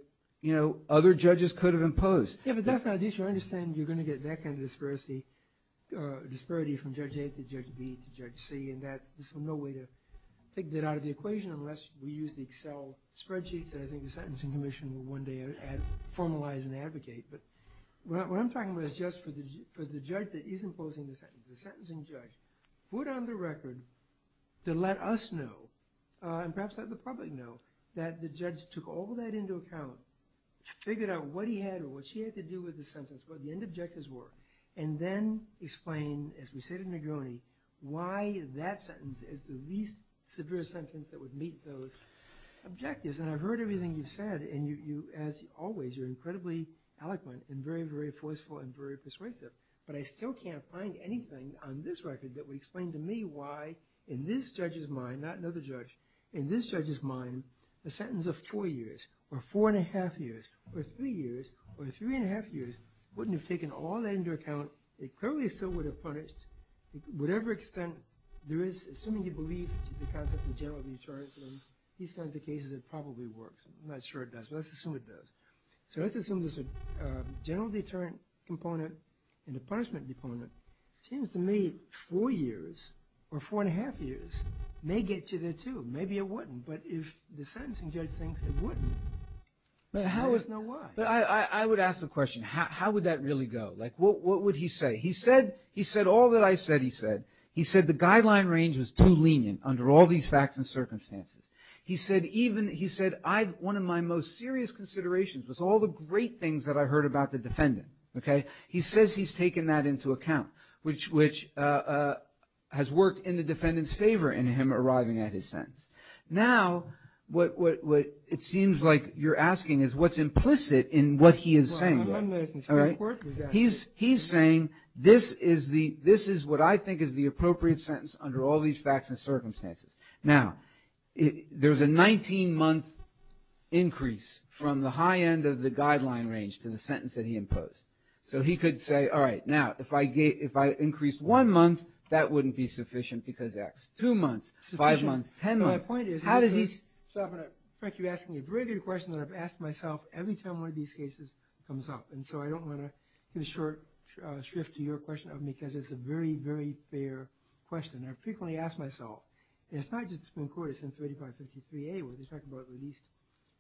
other judges could have imposed. Yeah, but that's not the issue. I understand you're going to get that kind of disparity from Judge A to Judge B to Judge C, and this is no way to take that out of the equation unless we use the Excel spreadsheets that I think the Sentencing Commission will one day formalize and advocate. But what I'm talking about is just for the judge that is imposing the sentence. The sentencing judge put on the record to let us know, and perhaps let the public know, that the judge took all that into account, figured out what he had or what she had to do with the sentence, what the end objectives were, and then explained, as we say to Negroni, why that sentence is the least severe sentence that would meet those objectives. And I've heard everything you've said, and you, as always, are incredibly eloquent and very, very forceful and very persuasive. But I still can't find anything on this record that would explain to me why in this judge's mind, not another judge, in this judge's mind, a sentence of four years or four and a half years or three years or three and a half years wouldn't have taken all that into account. It clearly still would have punished. To whatever extent there is, assuming you believe the concept of general recharge, in these kinds of cases, it probably works. I'm not sure it does, but let's assume it does. So let's assume there's a general deterrent component and a punishment component. It seems to me four years or four and a half years may get you there, too. Maybe it wouldn't. But if the sentencing judge thinks it wouldn't, how does he know why? But I would ask the question, how would that really go? Like, what would he say? He said all that I said he said. He said the guideline range was too lenient under all these facts and circumstances. He said one of my most serious considerations was all the great things that I heard about the defendant. He says he's taken that into account, which has worked in the defendant's favor in him arriving at his sentence. Now, what it seems like you're asking is what's implicit in what he is saying. He's saying this is what I think is the appropriate sentence under all these facts and circumstances. Now, there's a 19-month increase from the high end of the guideline range to the sentence that he imposed. So he could say, all right, now, if I increased one month, that wouldn't be sufficient because that's two months, five months, ten months. My point is, Frank, you're asking a very good question that I've asked myself every time one of these cases comes up. And so I don't want to get a short shrift to your question of me because it's a very, very fair question. And I frequently ask myself, and it's not just the Supreme Court. It's in 3553A where they talk about the least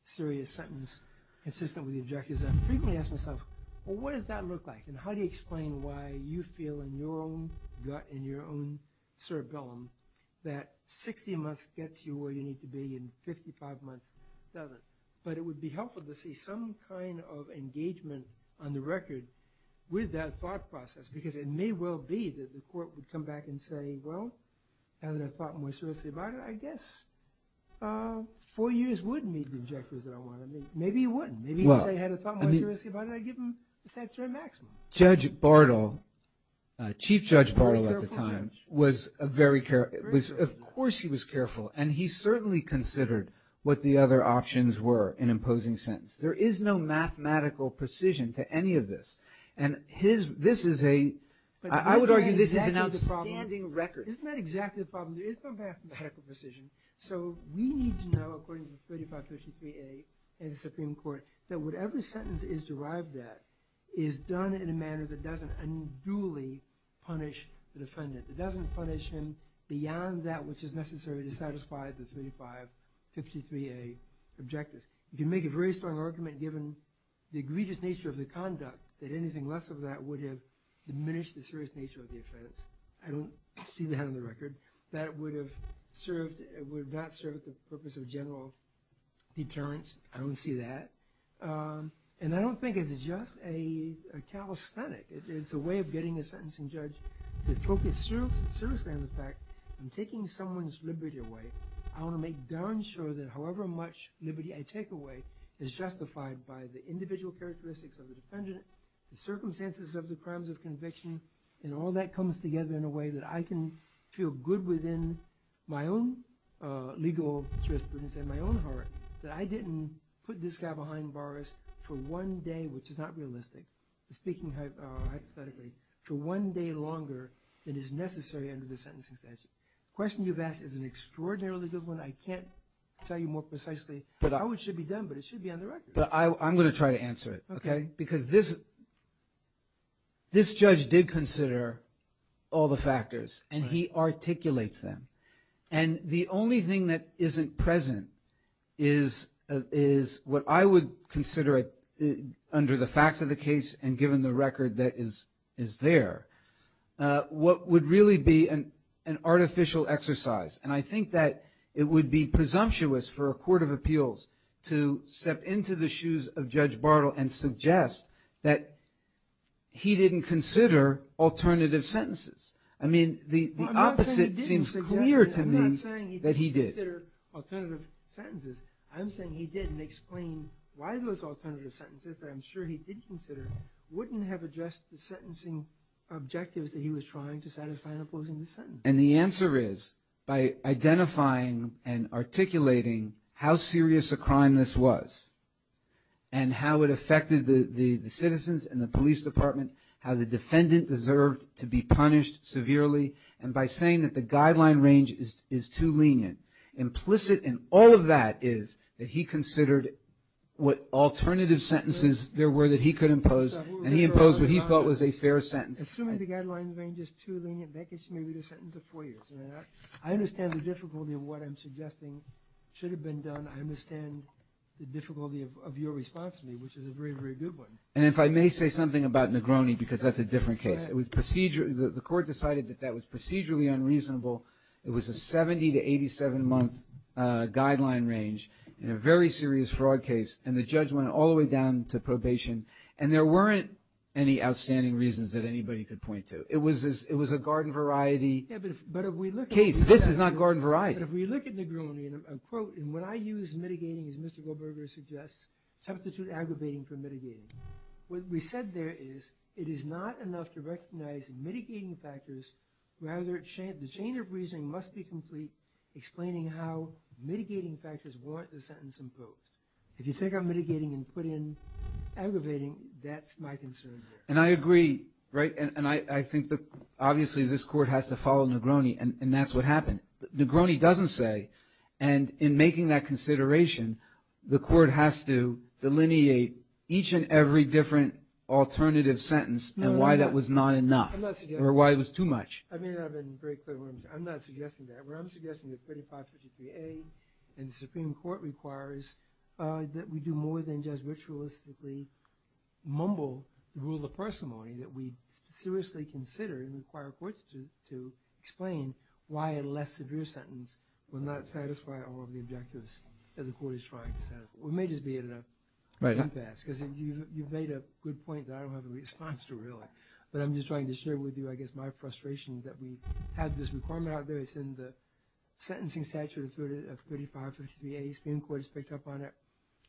serious sentence consistent with the objectives. And I frequently ask myself, well, what does that look like? And how do you explain why you feel in your own gut, in your own cerebellum, that 60 months gets you where you need to be and 55 months doesn't? But it would be helpful to see some kind of engagement on the record with that thought process because it may well be that the court would come back and say, well, now that I've thought more seriously about it, I guess four years would meet the objectives that I want to meet. Maybe it wouldn't. Maybe if they had thought more seriously about it, I'd give them the statutory maximum. Judge Bartle, Chief Judge Bartle at the time, was very careful. Of course he was careful, and he certainly considered what the other options were in imposing sentence. There is no mathematical precision to any of this. I would argue this is an outstanding record. Isn't that exactly the problem? There is no mathematical precision. So we need to know, according to 3553A in the Supreme Court, that whatever sentence is derived at is done in a manner that doesn't unduly punish the defendant. It doesn't punish him beyond that which is necessary to satisfy the 3553A objectives. You can make a very strong argument given the egregious nature of the conduct that anything less of that would have diminished the serious nature of the offense. I don't see that on the record. That would have not served the purpose of general deterrence. I don't see that. And I don't think it's just a calisthenic. It's a way of getting a sentencing judge to focus seriously on the fact I'm taking someone's liberty away. I want to make darn sure that however much liberty I take away is justified by the individual characteristics of the defendant, the circumstances of the crimes of conviction, and all that comes together in a way that I can feel good within my own legal jurisprudence and my own heart that I didn't put this guy behind bars for one day, which is not realistic, speaking hypothetically, for one day longer than is necessary under the sentencing statute. The question you've asked is an extraordinarily good one. I can't tell you more precisely how it should be done, but it should be on the record. I'm going to try to answer it, okay? Because this judge did consider all the factors, and he articulates them. And the only thing that isn't present is what I would consider, under the facts of the case and given the record that is there, what would really be an artificial exercise. And I think that it would be presumptuous for a court of appeals to step into the shoes of Judge Bartle and suggest that he didn't consider alternative sentences. I mean, the opposite seems clear to me that he did. I'm not saying he didn't consider alternative sentences. I'm saying he didn't explain why those alternative sentences that I'm sure he did consider wouldn't have addressed the sentencing objectives that he was trying to satisfy in opposing the sentence. And the answer is, by identifying and articulating how serious a crime this was and how it affected the citizens and the police department, how the defendant deserved to be punished severely, and by saying that the guideline range is too lenient. Implicit in all of that is that he considered what alternative sentences there were that he could impose, and he imposed what he thought was a fair sentence. Assuming the guideline range is too lenient, that gets me to read a sentence of four years. I understand the difficulty of what I'm suggesting should have been done. I understand the difficulty of your response to me, which is a very, very good one. And if I may say something about Negroni, because that's a different case. The court decided that that was procedurally unreasonable. It was a 70- to 87-month guideline range in a very serious fraud case, and the judge went all the way down to probation, and there weren't any outstanding reasons that anybody could point to. It was a garden variety... Yeah, but if we look at... Case, this is not garden variety. But if we look at Negroni, and quote, and when I use mitigating, as Mr. Goldberger suggests, substitute aggravating for mitigating. What we said there is it is not enough to recognize mitigating factors. Rather, the chain of reasoning must be complete explaining how mitigating factors warrant the sentence imposed. If you take out mitigating and put in aggravating, that's my concern there. And I agree, right? And I think, obviously, this court has to follow Negroni, and that's what happened. Negroni doesn't say, and in making that consideration, the court has to delineate each and every different alternative sentence and why that was not enough, or why it was too much. I mean that in very clear words. I'm not suggesting that. What I'm suggesting is 3553A, and the Supreme Court requires that we do more than just ritualistically mumble the rule of parsimony, that we seriously consider and require courts to explain why a less severe sentence will not satisfy all of the objectives that the court is trying to satisfy. We may just be at an impasse, because you've made a good point that I don't have a response to, really. But I'm just trying to share with you, I guess, my frustration that we have this requirement out there. It's in the sentencing statute of 3553A. The Supreme Court has picked up on it.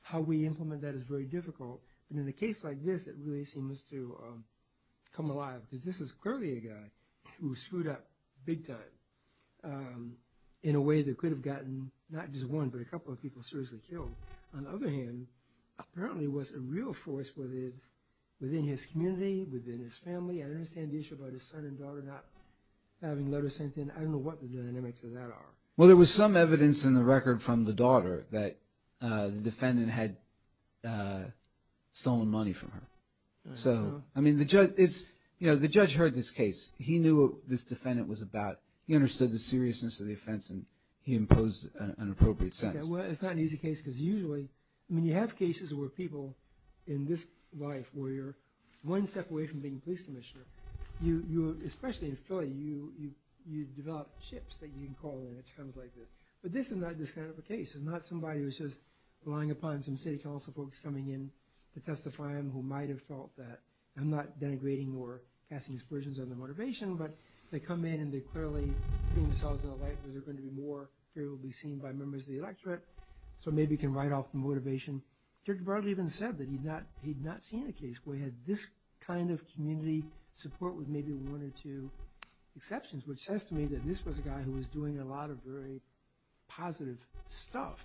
How we implement that is very difficult. But in a case like this, it really seems to come alive, because this is clearly a guy who screwed up big time in a way that could have gotten not just one, but a couple of people seriously killed. On the other hand, apparently it was a real force within his community, within his family. I understand the issue about his son and daughter not having letter sent in. I don't know what the dynamics of that are. Well, there was some evidence in the record from the daughter that the defendant had stolen money from her. So, I mean, the judge heard this case. He knew what this defendant was about. He understood the seriousness of the offense and he imposed an appropriate sentence. Well, it's not an easy case, because usually, when you have cases where people in this life, where you're one step away from being police commissioner, especially in Philly, you develop chips that you can call in at times like this. But this is not this kind of a case. This is not somebody who's just relying upon some city council folks coming in to testify him who might have felt that, I'm not denigrating or casting aspersions on their motivation, but they come in and they're clearly putting themselves in a light where they're going to be more favorably seen by members of the electorate, so maybe you can write off the motivation. Judge Bartlett even said that he'd not seen a case where he had this kind of community support with maybe one or two exceptions, which says to me that this was a guy who was doing a lot of very positive stuff.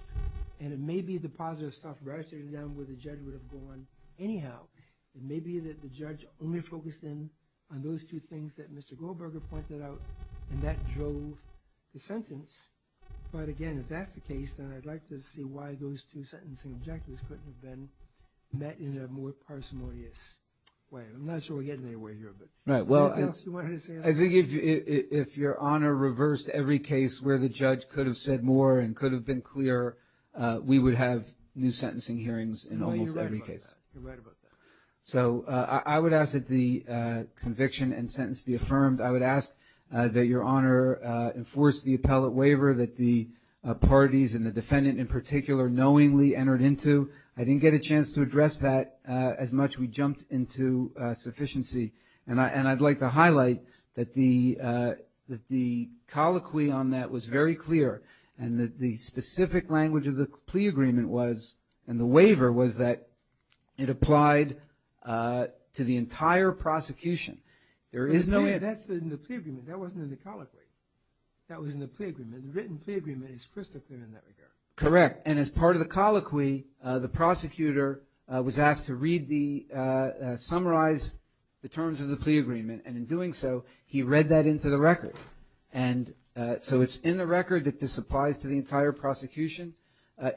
And it may be the positive stuff rather than where the judge would have gone anyhow. It may be that the judge only focused in on those two things that Mr. Goldberger pointed out and that drove the sentence. But again, if that's the case, then I'd like to see why those two sentencing objectives couldn't have been met in a more parsimonious way. I'm not sure we're getting anywhere here. Anything else you wanted to say? I think if Your Honor reversed every case where the judge could have said more and could have been clearer, we would have new sentencing hearings in almost every case. No, you're right about that. You're right about that. So I would ask that the conviction and sentence be affirmed. I would ask that Your Honor enforce the appellate waiver that the parties and the defendant in particular knowingly entered into. I didn't get a chance to address that as much we jumped into sufficiency. And I'd like to highlight that the colloquy on that was very clear and that the specific language of the plea agreement was, and the waiver was that it applied to the entire prosecution. There is no... That's in the plea agreement. That wasn't in the colloquy. That was in the plea agreement. The written plea agreement is crystal clear in that regard. Correct. And as part of the colloquy, the prosecutor was asked to read the... summarize the terms of the plea agreement. And in doing so, he read that into the record. And so it's in the record that this applies to the entire prosecution.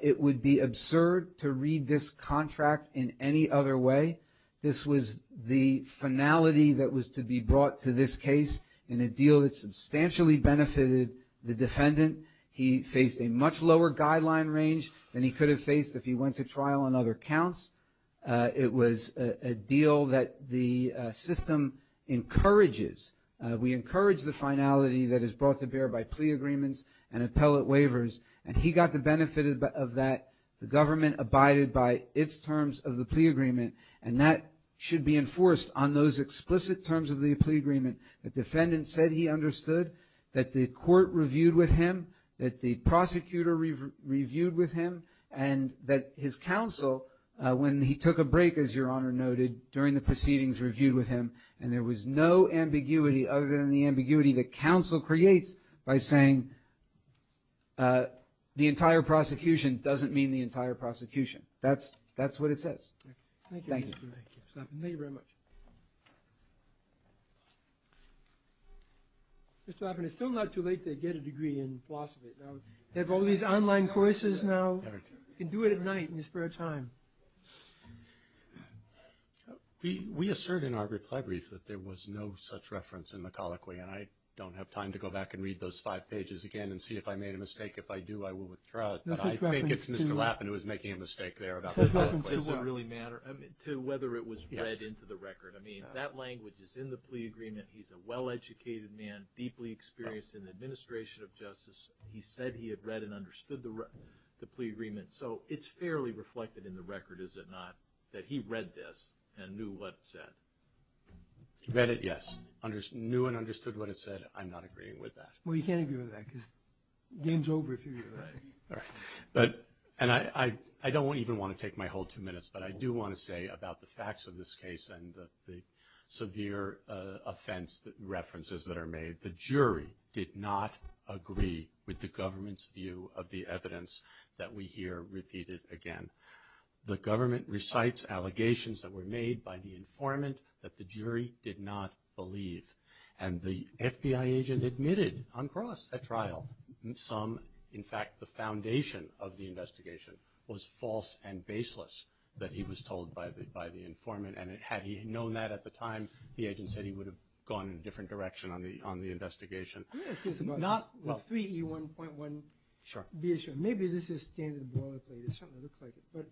It would be absurd to read this contract in any other way. This was the finality that was to be brought to this case in a deal that substantially benefited the defendant. He faced a much lower guideline range than he could have faced if he went to trial on other counts. It was a deal that the system encourages. We encourage the finality that is brought to bear by plea agreements and appellate waivers. And he got the benefit of that. The government abided by its terms of the plea agreement. And that should be enforced on those explicit terms of the plea agreement. The defendant said he understood that the court reviewed with him, that the prosecutor reviewed with him, and that his counsel, when he took a break, as Your Honor noted, during the proceedings, reviewed with him. And there was no ambiguity other than the ambiguity that counsel creates by saying the entire prosecution doesn't mean the entire prosecution. That's what it says. Thank you. Thank you very much. Mr. Lappin, it's still not too late to get a degree in philosophy. They have all these online courses now. You can do it at night in your spare time. We assert in our reply brief that there was no such reference in the colloquy. And I don't have time to go back and read those five pages again and see if I made a mistake. If I do, I will withdraw it. But I think it's Mr. Lappin who was making a mistake there about the colloquy. To whether it was read into the record. I mean, that language is in the plea agreement. He's a well-educated man, deeply experienced in the administration of justice. He said he had read and understood the plea agreement. So it's fairly reflected in the record, is it not, that he read this and knew what it said? Read it, yes. Knew and understood what it said. I'm not agreeing with that. Well, you can't agree with that, because the game's over if you read it. All right. And I don't even want to take my whole two minutes, but I do want to say about the facts of this case and the severe offense references that are made, the jury did not agree with the government's view of the evidence that we hear repeated again. The government recites allegations that were made by the informant that the jury did not believe. And the FBI agent admitted on cross at trial. Some, in fact, the foundation of the investigation was false and baseless that he was told by the informant. And had he known that at the time, the agent said he would have gone in a different direction on the investigation. Can I ask you a question? Not, well. 3E1.1. Sure. Maybe this is standard boilerplate. It certainly looks like it. But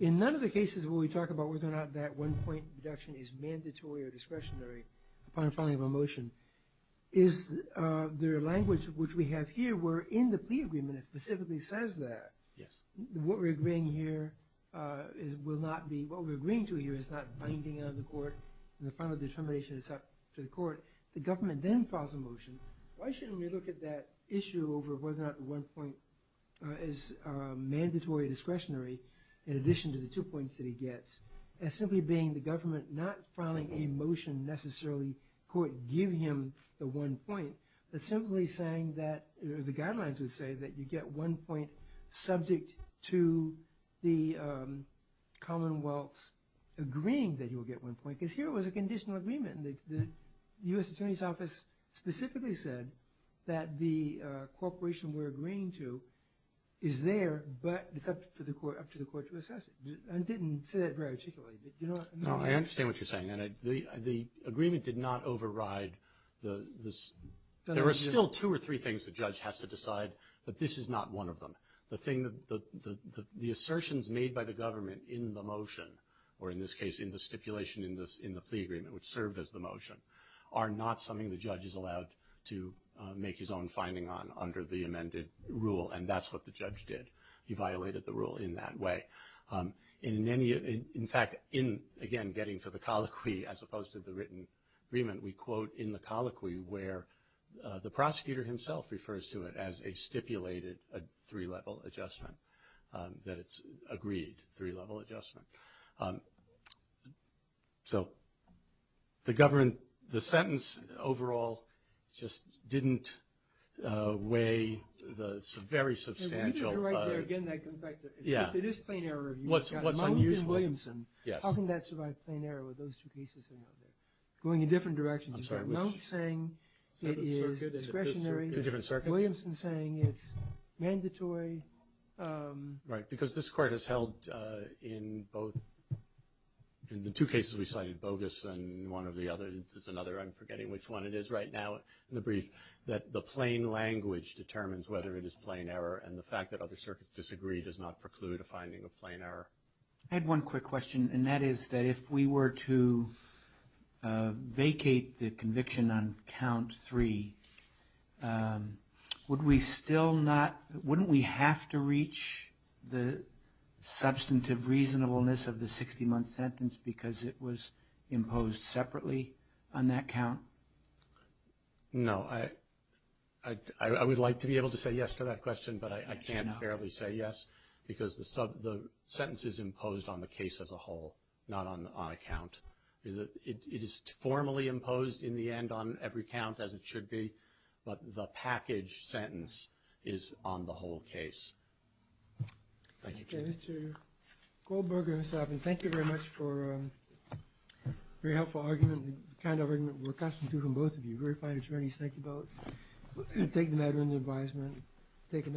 in none of the cases where we talk about whether or not that one-point deduction is mandatory or discretionary, upon filing of a motion, is there a language which we have here where in the plea agreement it specifically says that. Yes. What we're agreeing to here is not binding on the court and the final determination is up to the court. The government then files a motion. Why shouldn't we look at that issue over whether or not the one-point is mandatory or discretionary in addition to the two points that he gets as simply being the government not filing a motion necessarily to have the court give him the one point, but simply saying that the guidelines would say that you get one point subject to the Commonwealth's agreeing that he will get one point. Because here it was a conditional agreement. The U.S. Attorney's Office specifically said that the cooperation we're agreeing to is there, but it's up to the court to assess it. No, I understand what you're saying. The agreement did not override the... There are still two or three things the judge has to decide, but this is not one of them. The assertions made by the government in the motion, or in this case in the stipulation in the plea agreement, which served as the motion, are not something the judge is allowed to make his own finding on under the amended rule, and that's what the judge did. He violated the rule in that way. In fact, in, again, getting to the colloquy as opposed to the written agreement, we quote in the colloquy where the prosecutor himself refers to it as a stipulated three-level adjustment, that it's agreed, three-level adjustment. The sentence overall just didn't weigh the very substantial... If it is plain error, you've got Mount and Williamson, how can that survive plain error with those two cases going in different directions? You've got Mount saying it is discretionary, Williamson saying it's mandatory. Right, because this court has held in both, in the two cases we cited, bogus and one or the other, there's another, I'm forgetting which one it is right now, in the brief, that the plain language determines whether it is plain error, and the fact that other circuits disagree does not preclude a finding of plain error. I had one quick question, and that is that if we were to vacate the conviction on count three, would we still not, wouldn't we have to reach the substantive reasonableness of the 60-month sentence because it was imposed separately on that count? No, I would like to be able to say yes to that question, but I can't fairly say yes, because the sentence is imposed on the case as a whole, not on a count. It is formally imposed in the end on every count as it should be, but the package sentence is on the whole case. Thank you. Mr. Goldberger and Mr. Alvin, thank you very much for a very helpful argument, kind argument we're accustomed to from both of you, very fine attorneys, thank you both. Thank you.